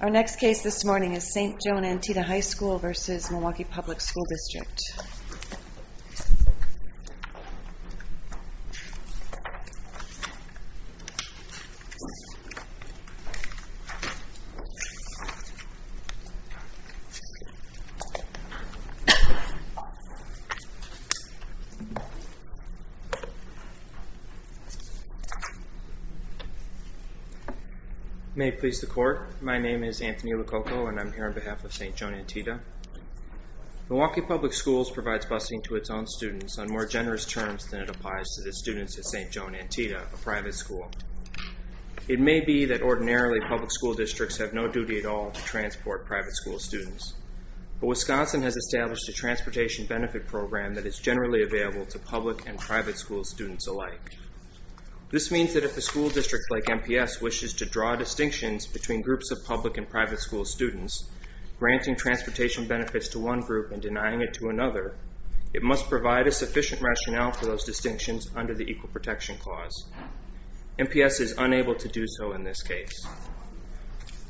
Our next case this morning is St. Joan Antida High School v. Milwaukee Public School District. May it please the Court, my name is Anthony Lococo and I'm here on behalf of St. Joan Antida. Milwaukee Public Schools provides busing to its own students on more generous terms than it applies to the students at St. Joan Antida, a private school. It may be that ordinarily public school districts have no duty at all to transport private school students. But Wisconsin has established a transportation benefit program that is generally available to public and private school students alike. This means that if a school district like MPS wishes to draw distinctions between groups of public and private school students, granting transportation benefits to one group and denying it to another, it must provide a sufficient rationale for those distinctions under the Equal Protection Clause. MPS is unable to do so in this case.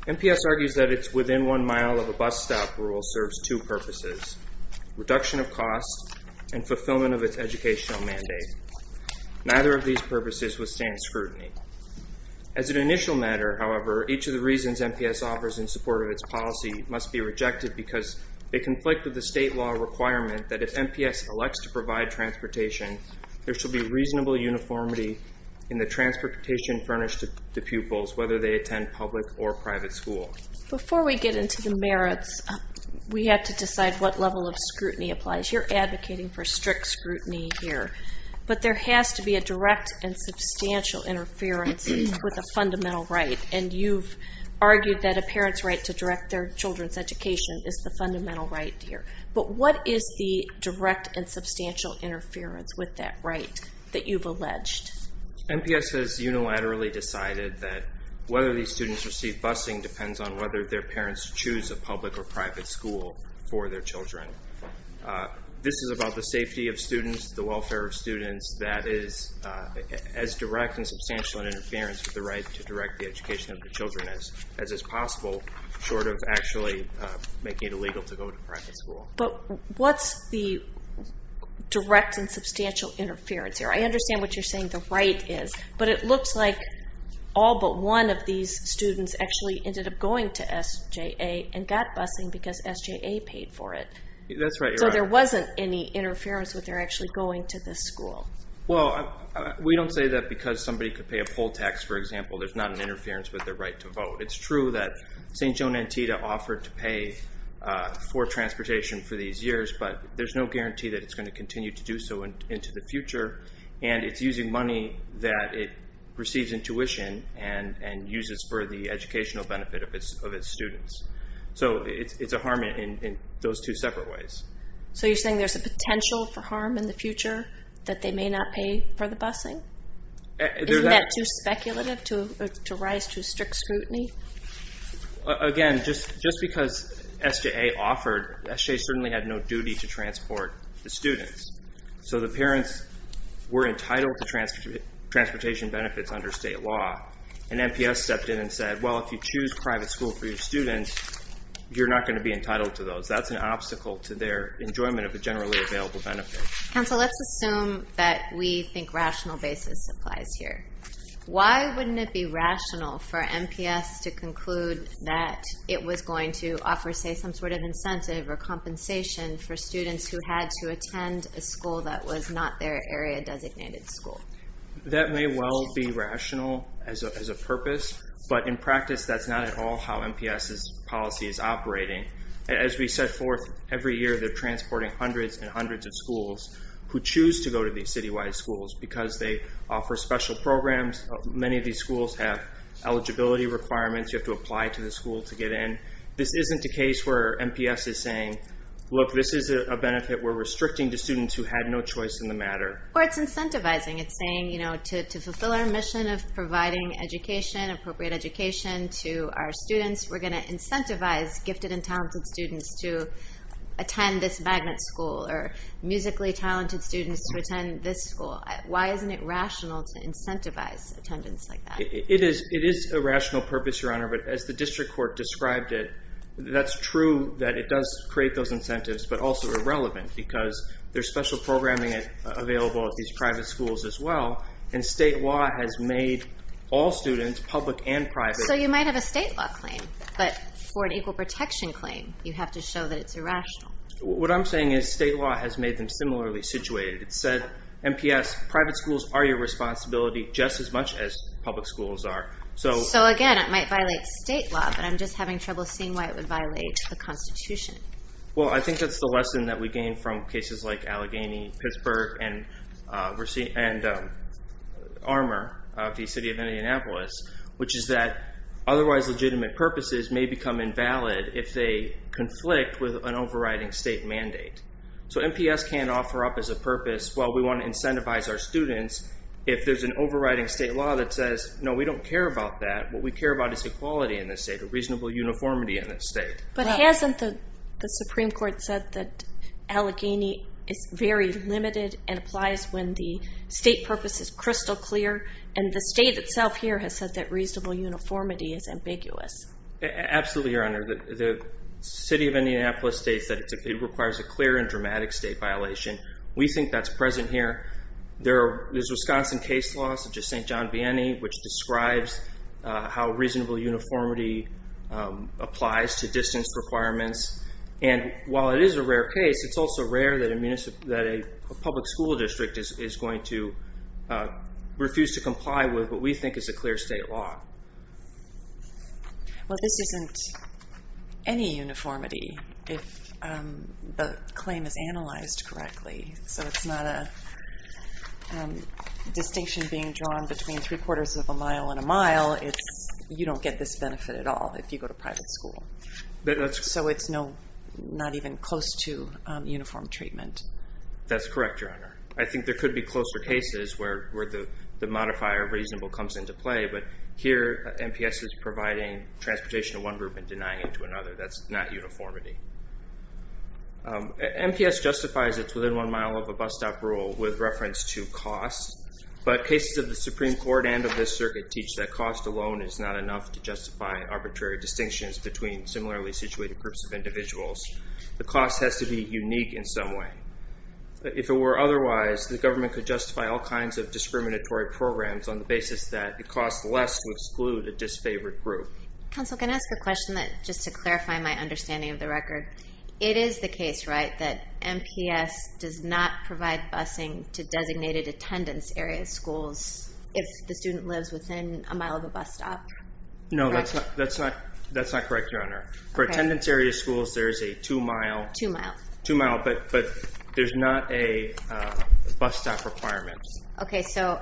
MPS argues that its Within One Mile of a Bus Stop rule serves two purposes, reduction of costs and fulfillment of its educational mandate. Neither of these purposes withstand scrutiny. As an initial matter, however, each of the reasons MPS offers in support of its policy must be rejected because they conflict with the state law requirement that if MPS elects to provide transportation, there should be reasonable uniformity in the transportation furnished to pupils, whether they attend public or private school. Before we get into the merits, we have to decide what level of scrutiny applies. You're advocating for strict scrutiny here. But there has to be a direct and substantial interference with a fundamental right. And you've argued that a parent's right to direct their children's education is the fundamental right here. But what is the direct and substantial interference with that right that you've alleged? MPS has unilaterally decided that whether these students receive busing depends on whether their parents choose a public or private school for their children. This is about the safety of students, the welfare of students. That is as direct and substantial an interference with the right to direct the education of the children as is possible, short of actually making it illegal to go to private school. But what's the direct and substantial interference here? I understand what you're saying, the right is. But it looks like all but one of these students actually ended up going to SJA and got busing because SJA paid for it. That's right. So there wasn't any interference with their actually going to this school. Well, we don't say that because somebody could pay a poll tax, for example, there's not an interference with their right to vote. It's true that St. Joan Antietam offered to pay for transportation for these years, but there's no guarantee that it's going to continue to do so into the future. And it's using money that it receives in tuition and uses for the educational benefit of its students. So it's a harm in those two separate ways. So you're saying there's a potential for harm in the future that they may not pay for the busing? Isn't that too speculative to rise to strict scrutiny? Again, just because SJA offered, SJA certainly had no duty to transport the students. So the parents were entitled to transportation benefits under state law, and NPS stepped in and said, well, if you choose private school for your students, you're not going to be entitled to those. That's an obstacle to their enjoyment of the generally available benefits. Counsel, let's assume that we think rational basis applies here. Why wouldn't it be rational for NPS to conclude that it was going to offer, say, some sort of incentive or compensation for students who had to attend a school that was not their area-designated school? That may well be rational as a purpose, but in practice, that's not at all how NPS's policy is operating. As we set forth every year, they're transporting hundreds and hundreds of schools who choose to go to these citywide schools because they offer special programs. Many of these schools have eligibility requirements. You have to apply to the school to get in. This isn't a case where NPS is saying, look, this is a benefit we're restricting to students who had no choice in the matter. Or it's incentivizing. It's saying, you know, to fulfill our mission of providing education, appropriate education to our students, we're going to incentivize gifted and talented students to attend this magnet school or musically talented students to attend this school. Why isn't it rational to incentivize attendance like that? It is a rational purpose, Your Honor, but as the district court described it, that's true that it does create those incentives, but also irrelevant because there's special programming available at these private schools as well, and state law has made all students, public and private. So you might have a state law claim, but for an equal protection claim, you have to show that it's irrational. What I'm saying is state law has made them similarly situated. It said, NPS, private schools are your responsibility just as much as public schools are. So again, it might violate state law, but I'm just having trouble seeing why it would violate the Constitution. Well, I think that's the lesson that we gain from cases like Allegheny, Pittsburgh, and Armour of the city of Indianapolis, which is that otherwise legitimate purposes may become invalid if they conflict with an overriding state mandate. So NPS can't offer up as a purpose, well, we want to incentivize our students if there's an overriding state law that says, no, we don't care about that. What we care about is equality in this state, a reasonable uniformity in this state. But hasn't the Supreme Court said that Allegheny is very limited and applies when the state purpose is crystal clear? And the state itself here has said that reasonable uniformity is ambiguous. Absolutely, Your Honor. The city of Indianapolis states that it requires a clear and dramatic state violation. We think that's present here. There's Wisconsin case laws, such as St. John Vianney, which describes how reasonable uniformity applies to distance requirements. And while it is a rare case, it's also rare that a public school district is going to refuse to comply with what we think is a clear state law. Well, this isn't any uniformity if the claim is analyzed correctly. So it's not a distinction being drawn between three-quarters of a mile and a mile. You don't get this benefit at all if you go to private school. So it's not even close to uniform treatment. That's correct, Your Honor. I think there could be closer cases where the modifier reasonable comes into play, but here MPS is providing transportation to one group and denying it to another. That's not uniformity. MPS justifies it's within one mile of a bus stop rule with reference to cost, but cases of the Supreme Court and of this circuit teach that cost alone is not enough to justify arbitrary distinctions between similarly situated groups of individuals. The cost has to be unique in some way. If it were otherwise, the government could justify all kinds of discriminatory programs on the basis that the cost less would exclude a disfavored group. Counsel, can I ask a question just to clarify my understanding of the record? It is the case, right, that MPS does not provide busing to designated attendance area schools if the student lives within a mile of a bus stop? No, that's not correct, Your Honor. For attendance area schools, there's a two-mile, but there's not a bus stop requirement. Okay, so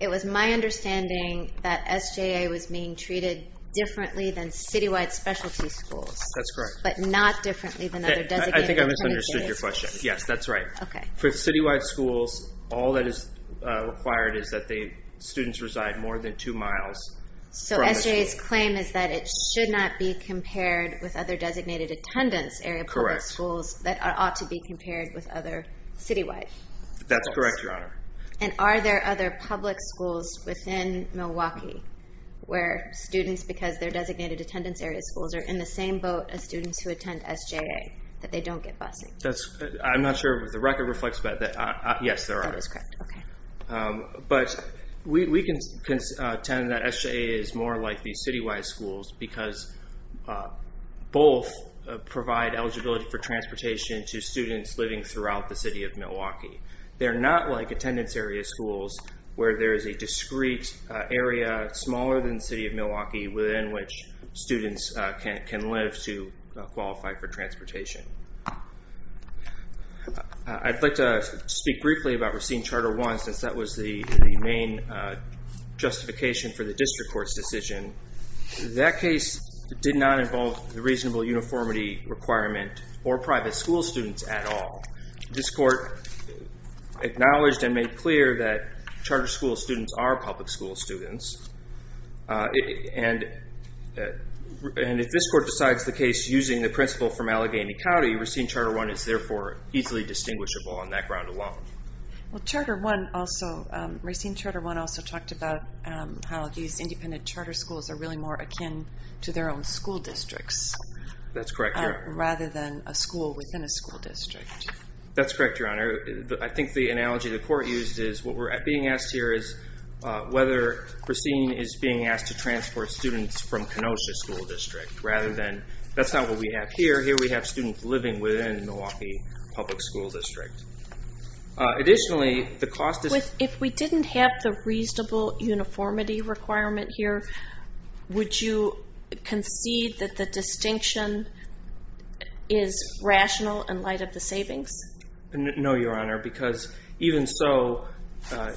it was my understanding that SJA was being treated differently than citywide specialty schools. That's correct. But not differently than other designated attendance areas. I think I misunderstood your question. Yes, that's right. For citywide schools, all that is required is that students reside more than two miles from the school. So SJA's claim is that it should not be compared with other designated attendance area public schools that ought to be compared with other citywide schools. That's correct, Your Honor. And are there other public schools within Milwaukee where students, because they're designated attendance area schools, are in the same boat as students who attend SJA, that they don't get busing? I'm not sure if the record reflects that. Yes, there are. That is correct. Okay. But we can contend that SJA is more like the citywide schools because both provide eligibility for transportation to students living throughout the city of Milwaukee. They're not like attendance area schools where there is a discrete area smaller than the city of Milwaukee within which students can live to qualify for transportation. I'd like to speak briefly about receiving Charter I since that was the main justification for the district court's decision. That case did not involve the reasonable uniformity requirement or private school students at all. This court acknowledged and made clear that charter school students are public school students. And if this court decides the case using the principle from Allegheny County, Racine Charter I is therefore easily distinguishable on that ground alone. Racine Charter I also talked about how these independent charter schools are really more akin to their own school districts. That's correct, Your Honor. Rather than a school within a school district. That's correct, Your Honor. I think the analogy the court used is what we're being asked here is whether Racine is being asked to transport students from Kenosha School District rather than that's not what we have here. Here we have students living within Milwaukee Public School District. Additionally, the cost is... If we didn't have the reasonable uniformity requirement here, would you concede that the distinction is rational in light of the savings? No, Your Honor, because even so,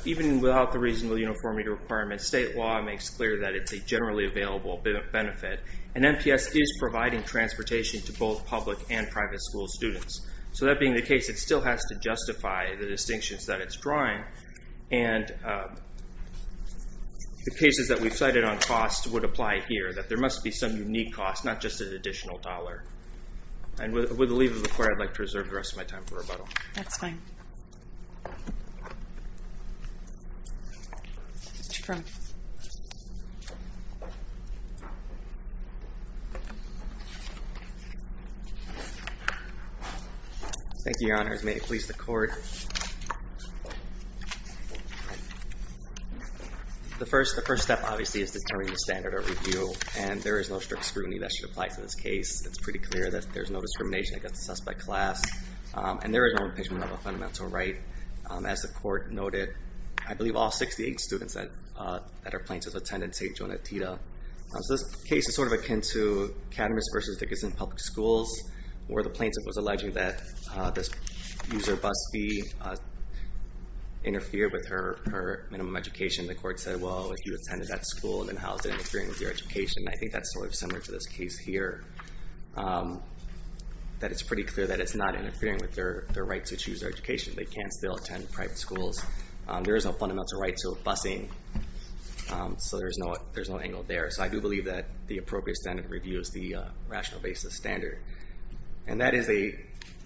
even without the reasonable uniformity requirement, state law makes clear that it's a generally available benefit. And NPS is providing transportation to both public and private school students. So that being the case, it still has to justify the distinctions that it's drawing. And the cases that we've cited on cost would apply here. That there must be some unique cost, not just an additional dollar. And with the leave of the court, I'd like to reserve the rest of my time for rebuttal. That's fine. Thank you, Your Honor. May it please the court. The first step, obviously, is determining the standard of review. And there is no strict scrutiny that should apply to this case. It's pretty clear that there's no discrimination against the suspect class. And there is no impeachment of a fundamental right. As the court noted, I believe all 68 students that are plaintiffs attended St. Jonatita. This case is sort of akin to Cadmus v. Dickinson Public Schools, where the plaintiff was alleging that the user bus fee interfered with her minimum education. The court said, well, if you attended that school, then how is it interfering with your education? And I think that's sort of similar to this case here. That it's pretty clear that it's not interfering with their right to choose their education. They can still attend private schools. There is no fundamental right to busing, so there's no angle there. So I do believe that the appropriate standard of review is the rational basis standard. And that is a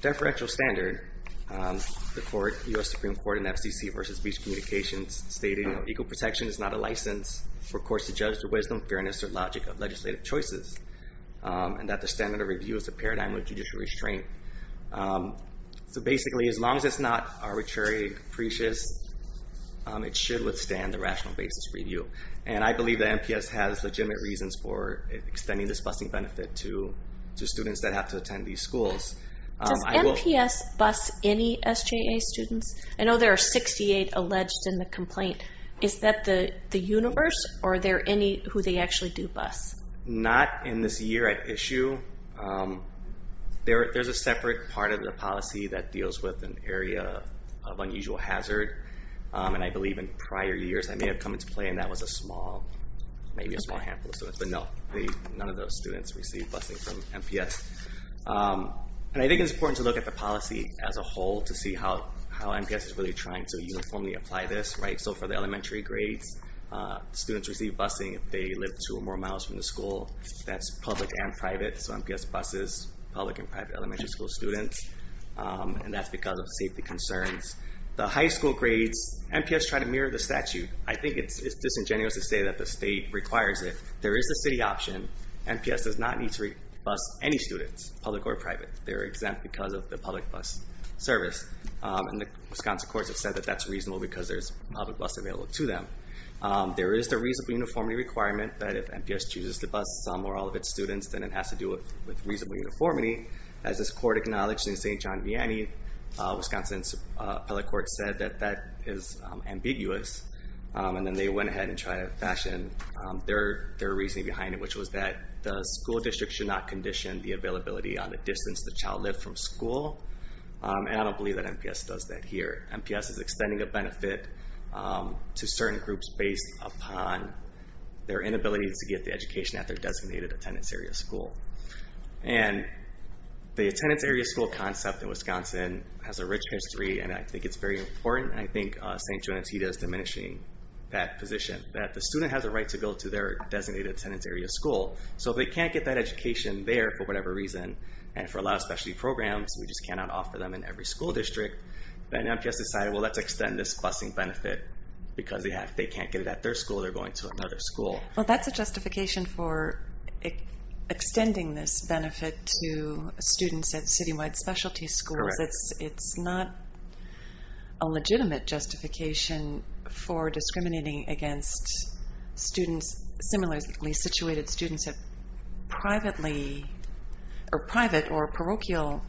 deferential standard. The court, U.S. Supreme Court in FCC v. Beach Communications, stated, you know, equal protection is not a license for courts to judge the wisdom, fairness, or logic of legislative choices. And that the standard of review is a paradigm of judicial restraint. So basically, as long as it's not arbitrary, capricious, it should withstand the rational basis review. And I believe that MPS has legitimate reasons for extending this busing benefit to students that have to attend these schools. Does MPS bus any SJA students? I know there are 68 alleged in the complaint. Is that the universe, or are there any who they actually do bus? Not in this year at issue. There's a separate part of the policy that deals with an area of unusual hazard. And I believe in prior years that may have come into play, and that was a small, maybe a small handful of students. But no, none of those students received busing from MPS. And I think it's important to look at the policy as a whole to see how MPS is really trying to uniformly apply this. So for the elementary grades, students receive busing if they live two or more miles from the school. That's public and private, so MPS buses public and private elementary school students. And that's because of safety concerns. The high school grades, MPS tried to mirror the statute. I think it's disingenuous to say that the state requires it. There is a city option. MPS does not need to bus any students, public or private. They're exempt because of the public bus service. And the Wisconsin courts have said that that's reasonable because there's a public bus available to them. There is the reasonable uniformity requirement that if MPS chooses to bus some or all of its students, then it has to do with reasonable uniformity. As this court acknowledged in St. John Vianney, Wisconsin's appellate court said that that is ambiguous. And then they went ahead and tried to fashion their reasoning behind it, which was that the school district should not condition the availability on the distance the child lived from school. And I don't believe that MPS does that here. MPS is extending a benefit to certain groups based upon their inability to get the education at their designated attendance area school. And the attendance area school concept in Wisconsin has a rich history, and I think it's very important, and I think St. John Antietam is diminishing that position, that the student has a right to go to their designated attendance area school. So if they can't get that education there for whatever reason, and for a lot of specialty programs, we just cannot offer them in every school district, then MPS decided, well, let's extend this busing benefit because they can't get it at their school, they're going to another school. Well, that's a justification for extending this benefit to students at citywide specialty schools. Correct. It's not a legitimate justification for discriminating against students, similarly situated students at private or parochial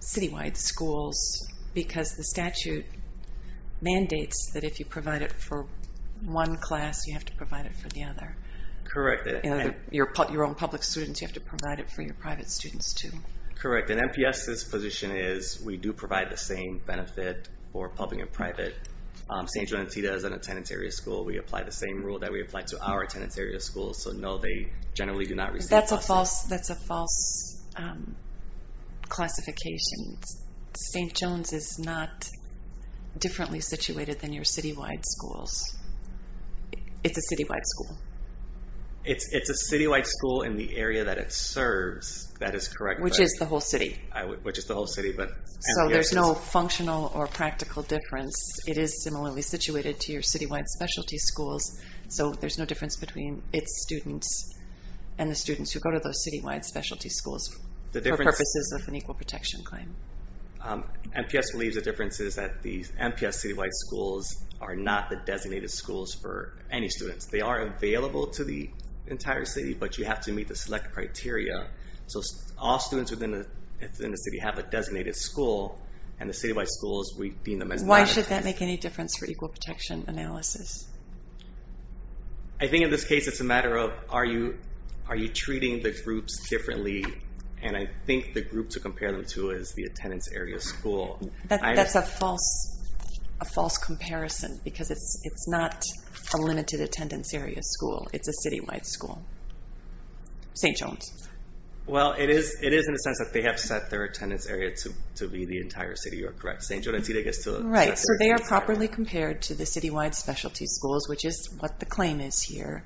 citywide schools, because the statute mandates that if you provide it for one class, you have to provide it for the other. Correct. Your own public students, you have to provide it for your private students, too. Correct, and MPS's position is we do provide the same benefit for public and private. St. John Antietam is an attendance area school. We apply the same rule that we apply to our attendance area schools, so no, they generally do not receive... That's a false classification. St. John's is not differently situated than your citywide schools. It's a citywide school. It's a citywide school in the area that it serves, that is correct. Which is the whole city. Which is the whole city, but MPS is... So there's no functional or practical difference. It is similarly situated to your citywide specialty schools, so there's no difference between its students and the students who go to those citywide specialty schools for purposes of an equal protection claim. MPS believes the difference is that the MPS citywide schools are not the designated schools for any students. They are available to the entire city, but you have to meet the select criteria, so all students within the city have a designated school, and the citywide schools, we deem them as... Why should that make any difference for equal protection analysis? I think in this case it's a matter of are you treating the groups differently, and I think the group to compare them to is the attendance area school. That's a false comparison because it's not a limited attendance area school. It's a citywide school. St. John's. Well, it is in a sense that they have set their attendance area to be the entire city, you are correct. Right, so they are properly compared to the citywide specialty schools, which is what the claim is here,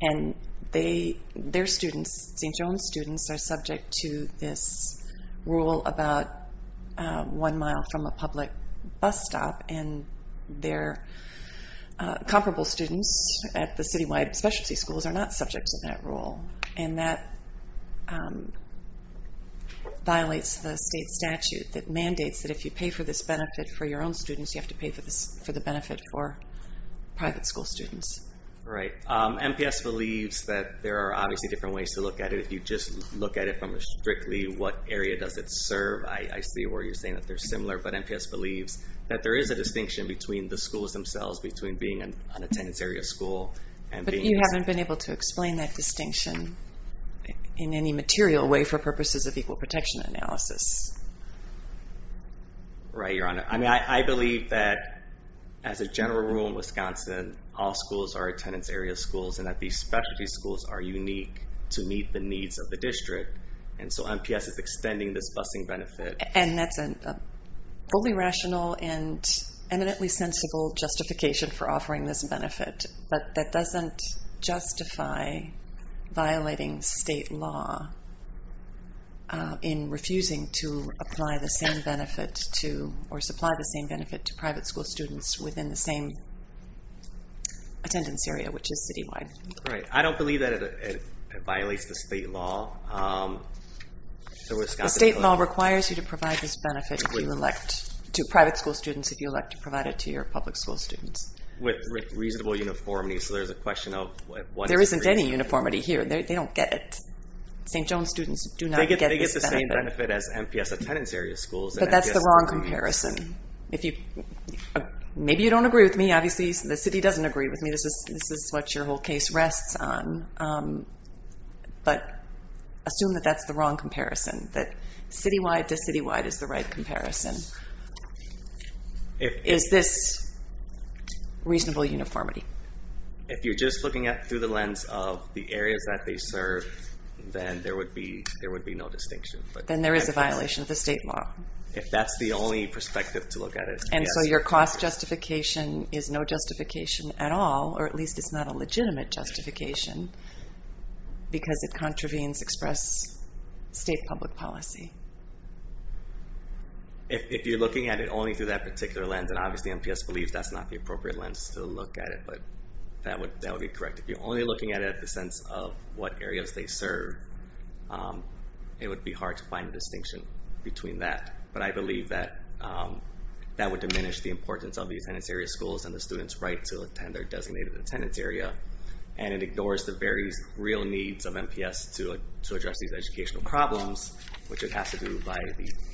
and their students, St. John's students, are subject to this rule about one mile from a public bus stop, and their comparable students at the citywide specialty schools are not subject to that rule, and that violates the state statute that mandates that if you pay for this benefit for your own students, you have to pay for the benefit for private school students. Right. MPS believes that there are obviously different ways to look at it. If you just look at it from a strictly what area does it serve, I see where you're saying that they're similar, but MPS believes that there is a distinction between the schools themselves, between being an attendance area school and being... You haven't been able to explain that distinction in any material way for purposes of equal protection analysis. Right, Your Honor. I mean, I believe that as a general rule in Wisconsin, all schools are attendance area schools, and that these specialty schools are unique to meet the needs of the district, and so MPS is extending this busing benefit. And that's a fully rational and eminently sensible justification for offering this benefit, but that doesn't justify violating state law in refusing to apply the same benefit to or supply the same benefit to private school students within the same attendance area, which is citywide. Right. I don't believe that it violates the state law. The state law requires you to provide this benefit to private school students if you elect to provide it to your public school students. With reasonable uniformity, so there's a question of... There isn't any uniformity here. They don't get it. St. Joan students do not get this benefit. They get the same benefit as MPS attendance area schools. But that's the wrong comparison. Maybe you don't agree with me. Obviously, the city doesn't agree with me. This is what your whole case rests on. But assume that that's the wrong comparison, that citywide to citywide is the right comparison. Is this reasonable uniformity? If you're just looking at it through the lens of the areas that they serve, then there would be no distinction. Then there is a violation of the state law. If that's the only perspective to look at it, yes. And so your cost justification is no justification at all, or at least it's not a legitimate justification, because it contravenes express state public policy. If you're looking at it only through that particular lens, and obviously MPS believes that's not the appropriate lens to look at it, but that would be correct. If you're only looking at it in the sense of what areas they serve, it would be hard to find a distinction between that. But I believe that that would diminish the importance of the attendance area schools and the students' right to attend their designated attendance area. And it ignores the various real needs of MPS to address these educational problems, which it has to do by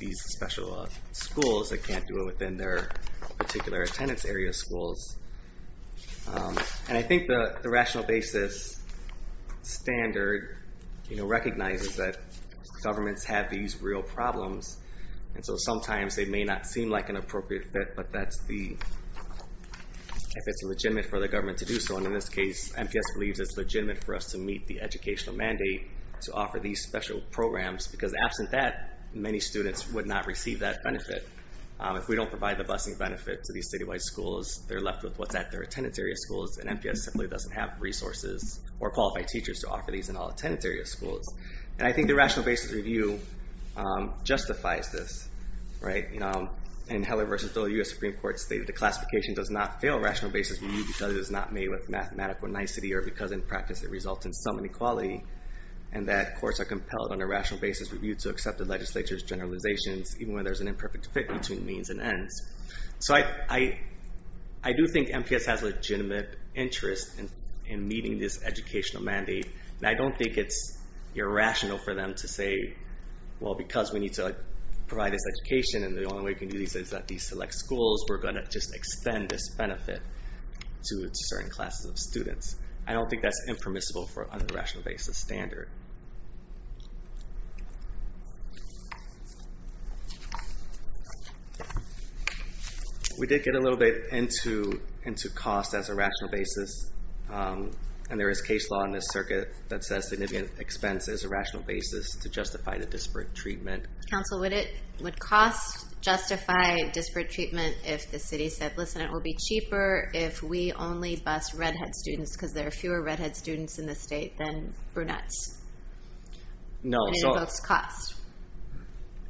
these special schools that can't do it within their particular attendance area schools. And I think the rational basis standard recognizes that governments have these real problems, and so sometimes they may not seem like an appropriate fit, but that's if it's legitimate for the government to do so. And in this case, MPS believes it's legitimate for us to meet the educational mandate to offer these special programs, because absent that, many students would not receive that benefit. If we don't provide the busing benefit to these statewide schools, they're left with what's at their attendance area schools, and MPS simply doesn't have resources or qualified teachers to offer these in all attendance area schools. And I think the rational basis review justifies this. In Heller v. Dole, the U.S. Supreme Court stated, the classification does not fail rational basis review because it is not made with mathematical nicety or because in practice it results in some inequality, and that courts are compelled on a rational basis review to accept the legislature's generalizations, even when there's an imperfect fit between means and ends. So I do think MPS has legitimate interest in meeting this educational mandate, and I don't think it's irrational for them to say, well, because we need to provide this education and the only way we can do this is at these select schools, we're going to just extend this benefit to certain classes of students. I don't think that's impermissible on a rational basis standard. We did get a little bit into cost as a rational basis, and there is case law in this circuit that says significant expense is a rational basis to justify the disparate treatment. Counsel, would cost justify disparate treatment if the city said, listen, it will be cheaper if we only bust redhead students because there are fewer redhead students in the state than brunettes? No. And it would cost?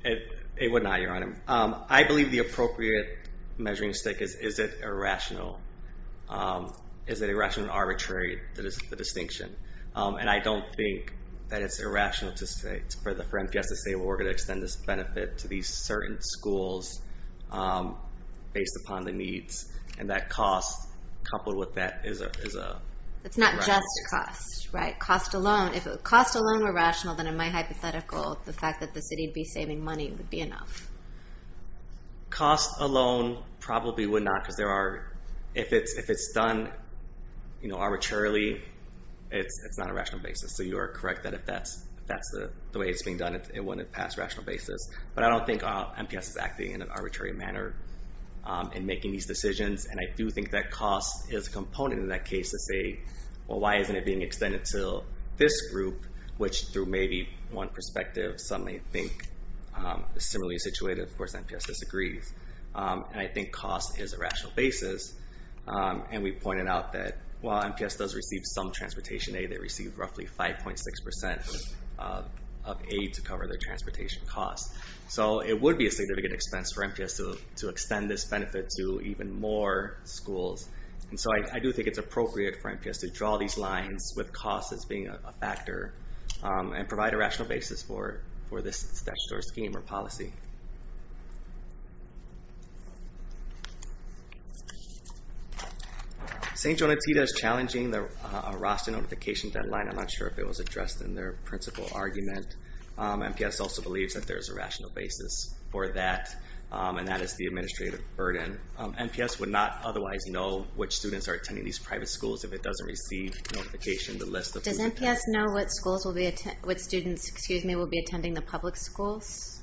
It would not, Your Honor. I believe the appropriate measuring stick is, is it irrational? Is it irrational and arbitrary? That is the distinction, and I don't think that it's irrational for MPS to say, well, we're going to extend this benefit to these certain schools based upon the needs, and that cost coupled with that is a rational basis. It's not just cost, right? Cost alone, if cost alone were rational, then in my hypothetical, the fact that the city would be saving money would be enough. Cost alone probably would not because there are, if it's done arbitrarily, it's not a rational basis. So you are correct that if that's the way it's being done, it wouldn't pass rational basis. But I don't think MPS is acting in an arbitrary manner in making these decisions, and I do think that cost is a component in that case to say, well, why isn't it being extended to this group, which through maybe one perspective, some may think is similarly situated. Of course, MPS disagrees. And I think cost is a rational basis. And we pointed out that while MPS does receive some transportation aid, they receive roughly 5.6% of aid to cover their transportation costs. So it would be a significant expense for MPS to extend this benefit to even more schools. And so I do think it's appropriate for MPS to draw these lines with cost as being a factor and provide a rational basis for this statutory scheme or policy. Thank you. St. Jonatita is challenging a roster notification deadline. I'm not sure if it was addressed in their principal argument. MPS also believes that there is a rational basis for that, and that is the administrative burden. MPS would not otherwise know which students are attending these private schools if it doesn't receive notification, the list of who's attending. Do you know what students will be attending the public schools?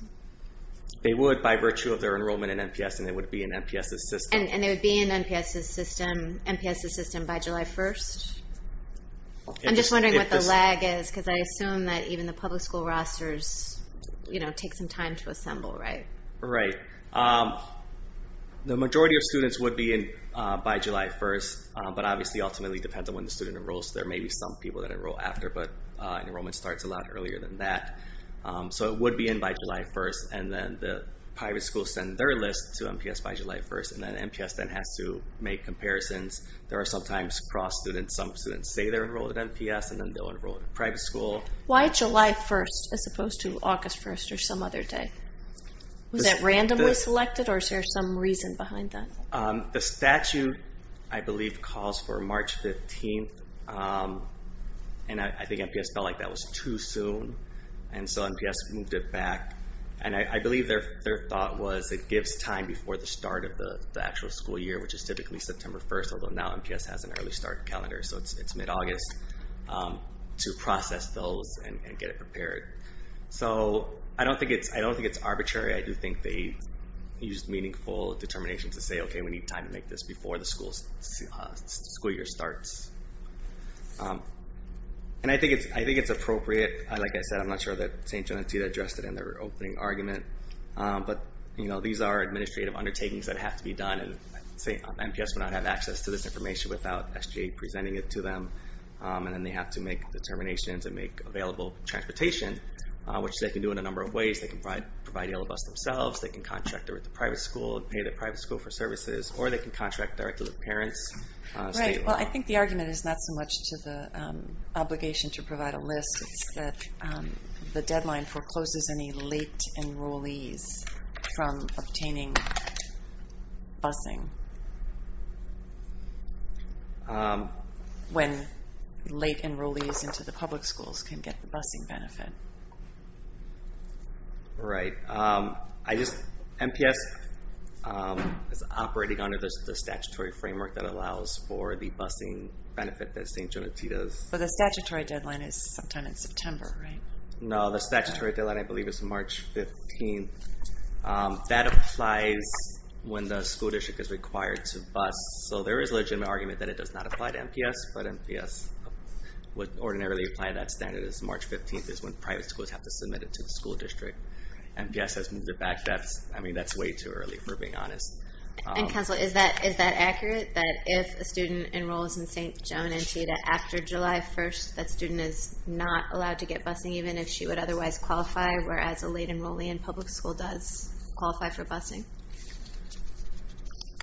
They would by virtue of their enrollment in MPS, and they would be in MPS's system. And they would be in MPS's system by July 1st? I'm just wondering what the lag is because I assume that even the public school rosters take some time to assemble, right? Right. The majority of students would be by July 1st, but obviously ultimately depends on when the student enrolls. There may be some people that enroll after, but enrollment starts a lot earlier than that. So it would be in by July 1st, and then the private schools send their list to MPS by July 1st, and then MPS then has to make comparisons. There are sometimes cross-students. Some students say they're enrolled at MPS, and then they'll enroll at a private school. Why July 1st as opposed to August 1st or some other day? Was that randomly selected, or is there some reason behind that? The statute, I believe, calls for March 15th, and I think MPS felt like that was too soon, and so MPS moved it back. And I believe their thought was it gives time before the start of the actual school year, which is typically September 1st, although now MPS has an early start calendar, so it's mid-August to process those and get it prepared. So I don't think it's arbitrary. I do think they used meaningful determination to say, okay, we need time to make this before the school year starts. And I think it's appropriate. Like I said, I'm not sure that St. John and Tita addressed it in their opening argument, but these are administrative undertakings that have to be done, and MPS would not have access to this information without SGA presenting it to them, and then they have to make determinations and make available transportation, which they can do in a number of ways. They can provide Yellow Bus themselves. They can contract it with a private school and pay the private school for services, or they can contract directly with parents. Right. Well, I think the argument is not so much to the obligation to provide a list. It's that the deadline forecloses any late enrollees from obtaining busing when late enrollees into the public schools can get the busing benefit. Right. MPS is operating under the statutory framework that allows for the busing benefit that St. John and Tita's. But the statutory deadline is sometime in September, right? No, the statutory deadline, I believe, is March 15th. That applies when the school district is required to bus. So there is a legitimate argument that it does not apply to MPS, but MPS would ordinarily apply that standard. It's March 15th is when private schools have to submit it to the school district. MPS has moved it back. I mean, that's way too early, if we're being honest. Counsel, is that accurate, that if a student enrolls in St. John and Tita after July 1st, that student is not allowed to get busing even if she would otherwise qualify, whereas a late enrollee in public school does qualify for busing?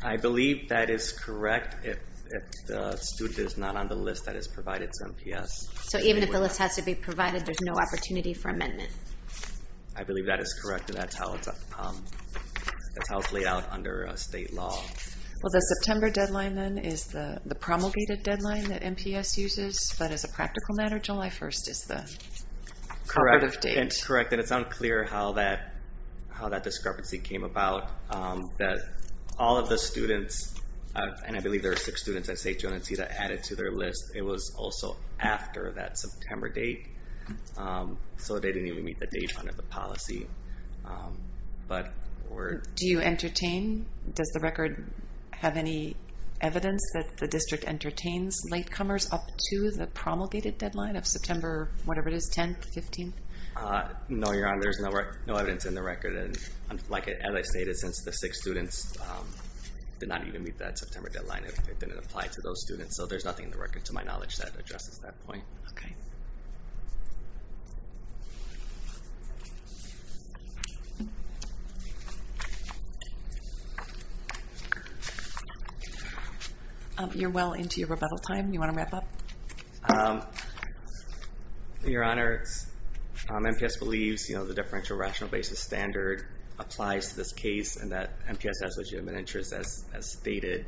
I believe that is correct if the student is not on the list that is provided to MPS. So even if the list has to be provided, there's no opportunity for amendment? I believe that is correct, and that's how it's laid out under state law. Well, the September deadline, then, is the promulgated deadline that MPS uses, but as a practical matter, July 1st is the operative date. That's correct, and it's unclear how that discrepancy came about. All of the students, and I believe there are six students at St. John and Tita, added to their list, it was also after that September date, so they didn't even meet the date under the policy. Do you entertain? Does the record have any evidence that the district entertains latecomers up to the promulgated deadline of September 10th, 15th? No, Your Honor, there's no evidence in the record. As I stated, since the six students did not even meet that September deadline, it didn't apply to those students, so there's nothing in the record, to my knowledge, that addresses that point. Okay. You're well into your rebuttal time. Do you want to wrap up? Your Honor, MPS believes the differential rational basis standard applies to this case and that MPS has legitimate interests, as stated.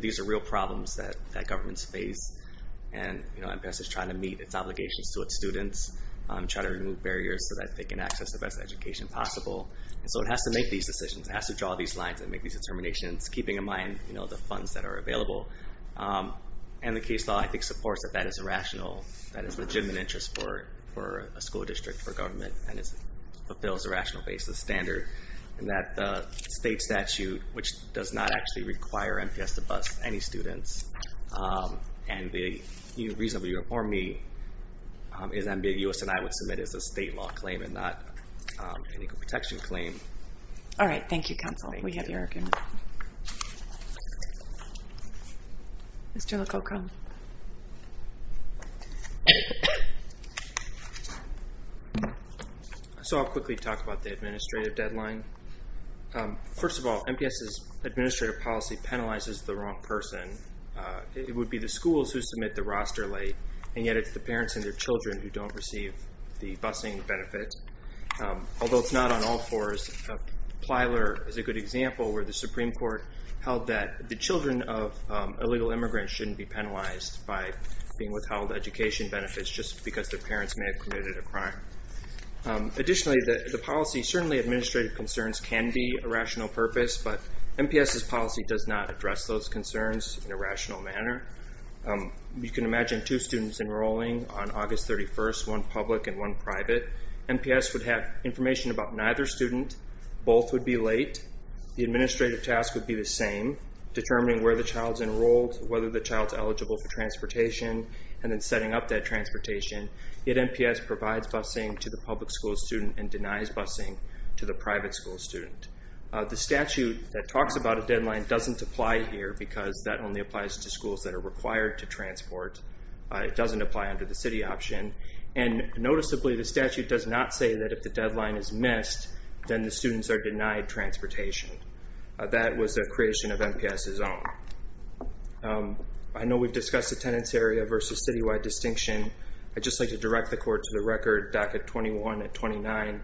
These are real problems that governments face, and MPS is trying to meet its obligations to its students, trying to remove barriers so that they can access the best education possible. And so it has to make these decisions. It has to draw these lines and make these determinations, keeping in mind the funds that are available. And the case law, I think, supports that that is a rational, that is a legitimate interest for a school district, for government, and it fulfills a rational basis standard, and that the state statute, which does not actually require MPS to bust any students, and the reason you informed me is ambiguous and I would submit as a state law claim and not an equal protection claim. All right. Thank you, counsel. We have your argument. Mr. Lococo. So I'll quickly talk about the administrative deadline. First of all, MPS's administrative policy penalizes the wrong person. It would be the schools who submit the roster late, and yet it's the parents and their children who don't receive the busing benefit. Although it's not on all fours, Plyler is a good example, where the Supreme Court held that the children of illegal immigrants shouldn't be penalized by being withheld education benefits just because their parents may have committed a crime. Additionally, the policy, certainly administrative concerns can be a rational purpose, but MPS's policy does not address those concerns in a rational manner. You can imagine two students enrolling on August 31st, one public and one private. MPS would have information about neither student. Both would be late. The administrative task would be the same, determining where the child's enrolled, whether the child's eligible for transportation, and then setting up that transportation. Yet MPS provides busing to the public school student and denies busing to the private school student. The statute that talks about a deadline doesn't apply here because that only applies to schools that are required to transport. It doesn't apply under the city option. And noticeably, the statute does not say that if the deadline is missed, then the students are denied transportation. That was a creation of MPS's own. I know we've discussed attendance area versus citywide distinction. I'd just like to direct the court to the record, docket 21 and 29.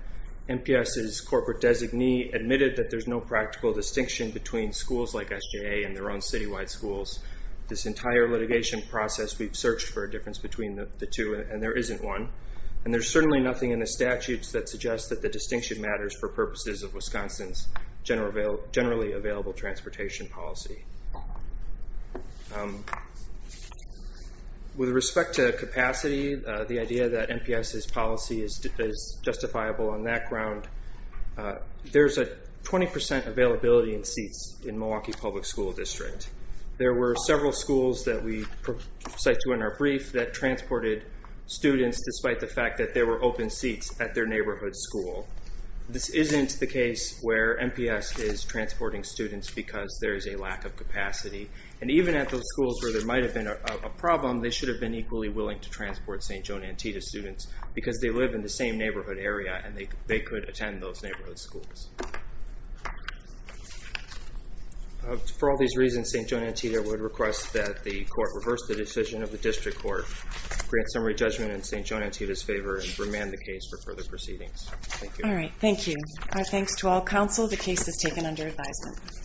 MPS's corporate designee admitted that there's no practical distinction between schools like SGA and their own citywide schools. This entire litigation process, we've searched for a difference between the two, and there isn't one. And there's certainly nothing in the statutes that suggests that the distinction matters for purposes of Wisconsin's generally available transportation policy. With respect to capacity, the idea that MPS's policy is justifiable on that ground, there's a 20% availability in seats in Milwaukee Public School District. There were several schools that we cite to in our brief that transported students despite the fact that there were open seats at their neighborhood school. This isn't the case where MPS is transporting students because there is a lack of capacity. And even at those schools where there might have been a problem, they should have been equally willing to transport St. Joan Antietam students because they live in the same neighborhood area and they could attend those neighborhood schools. For all these reasons, St. Joan Antietam would request that the court reverse the decision of the district court, grant summary judgment in St. Joan Antietam's favor, and remand the case for further proceedings. Thank you. All right, thank you. Our thanks to all counsel. The case is taken under advisement.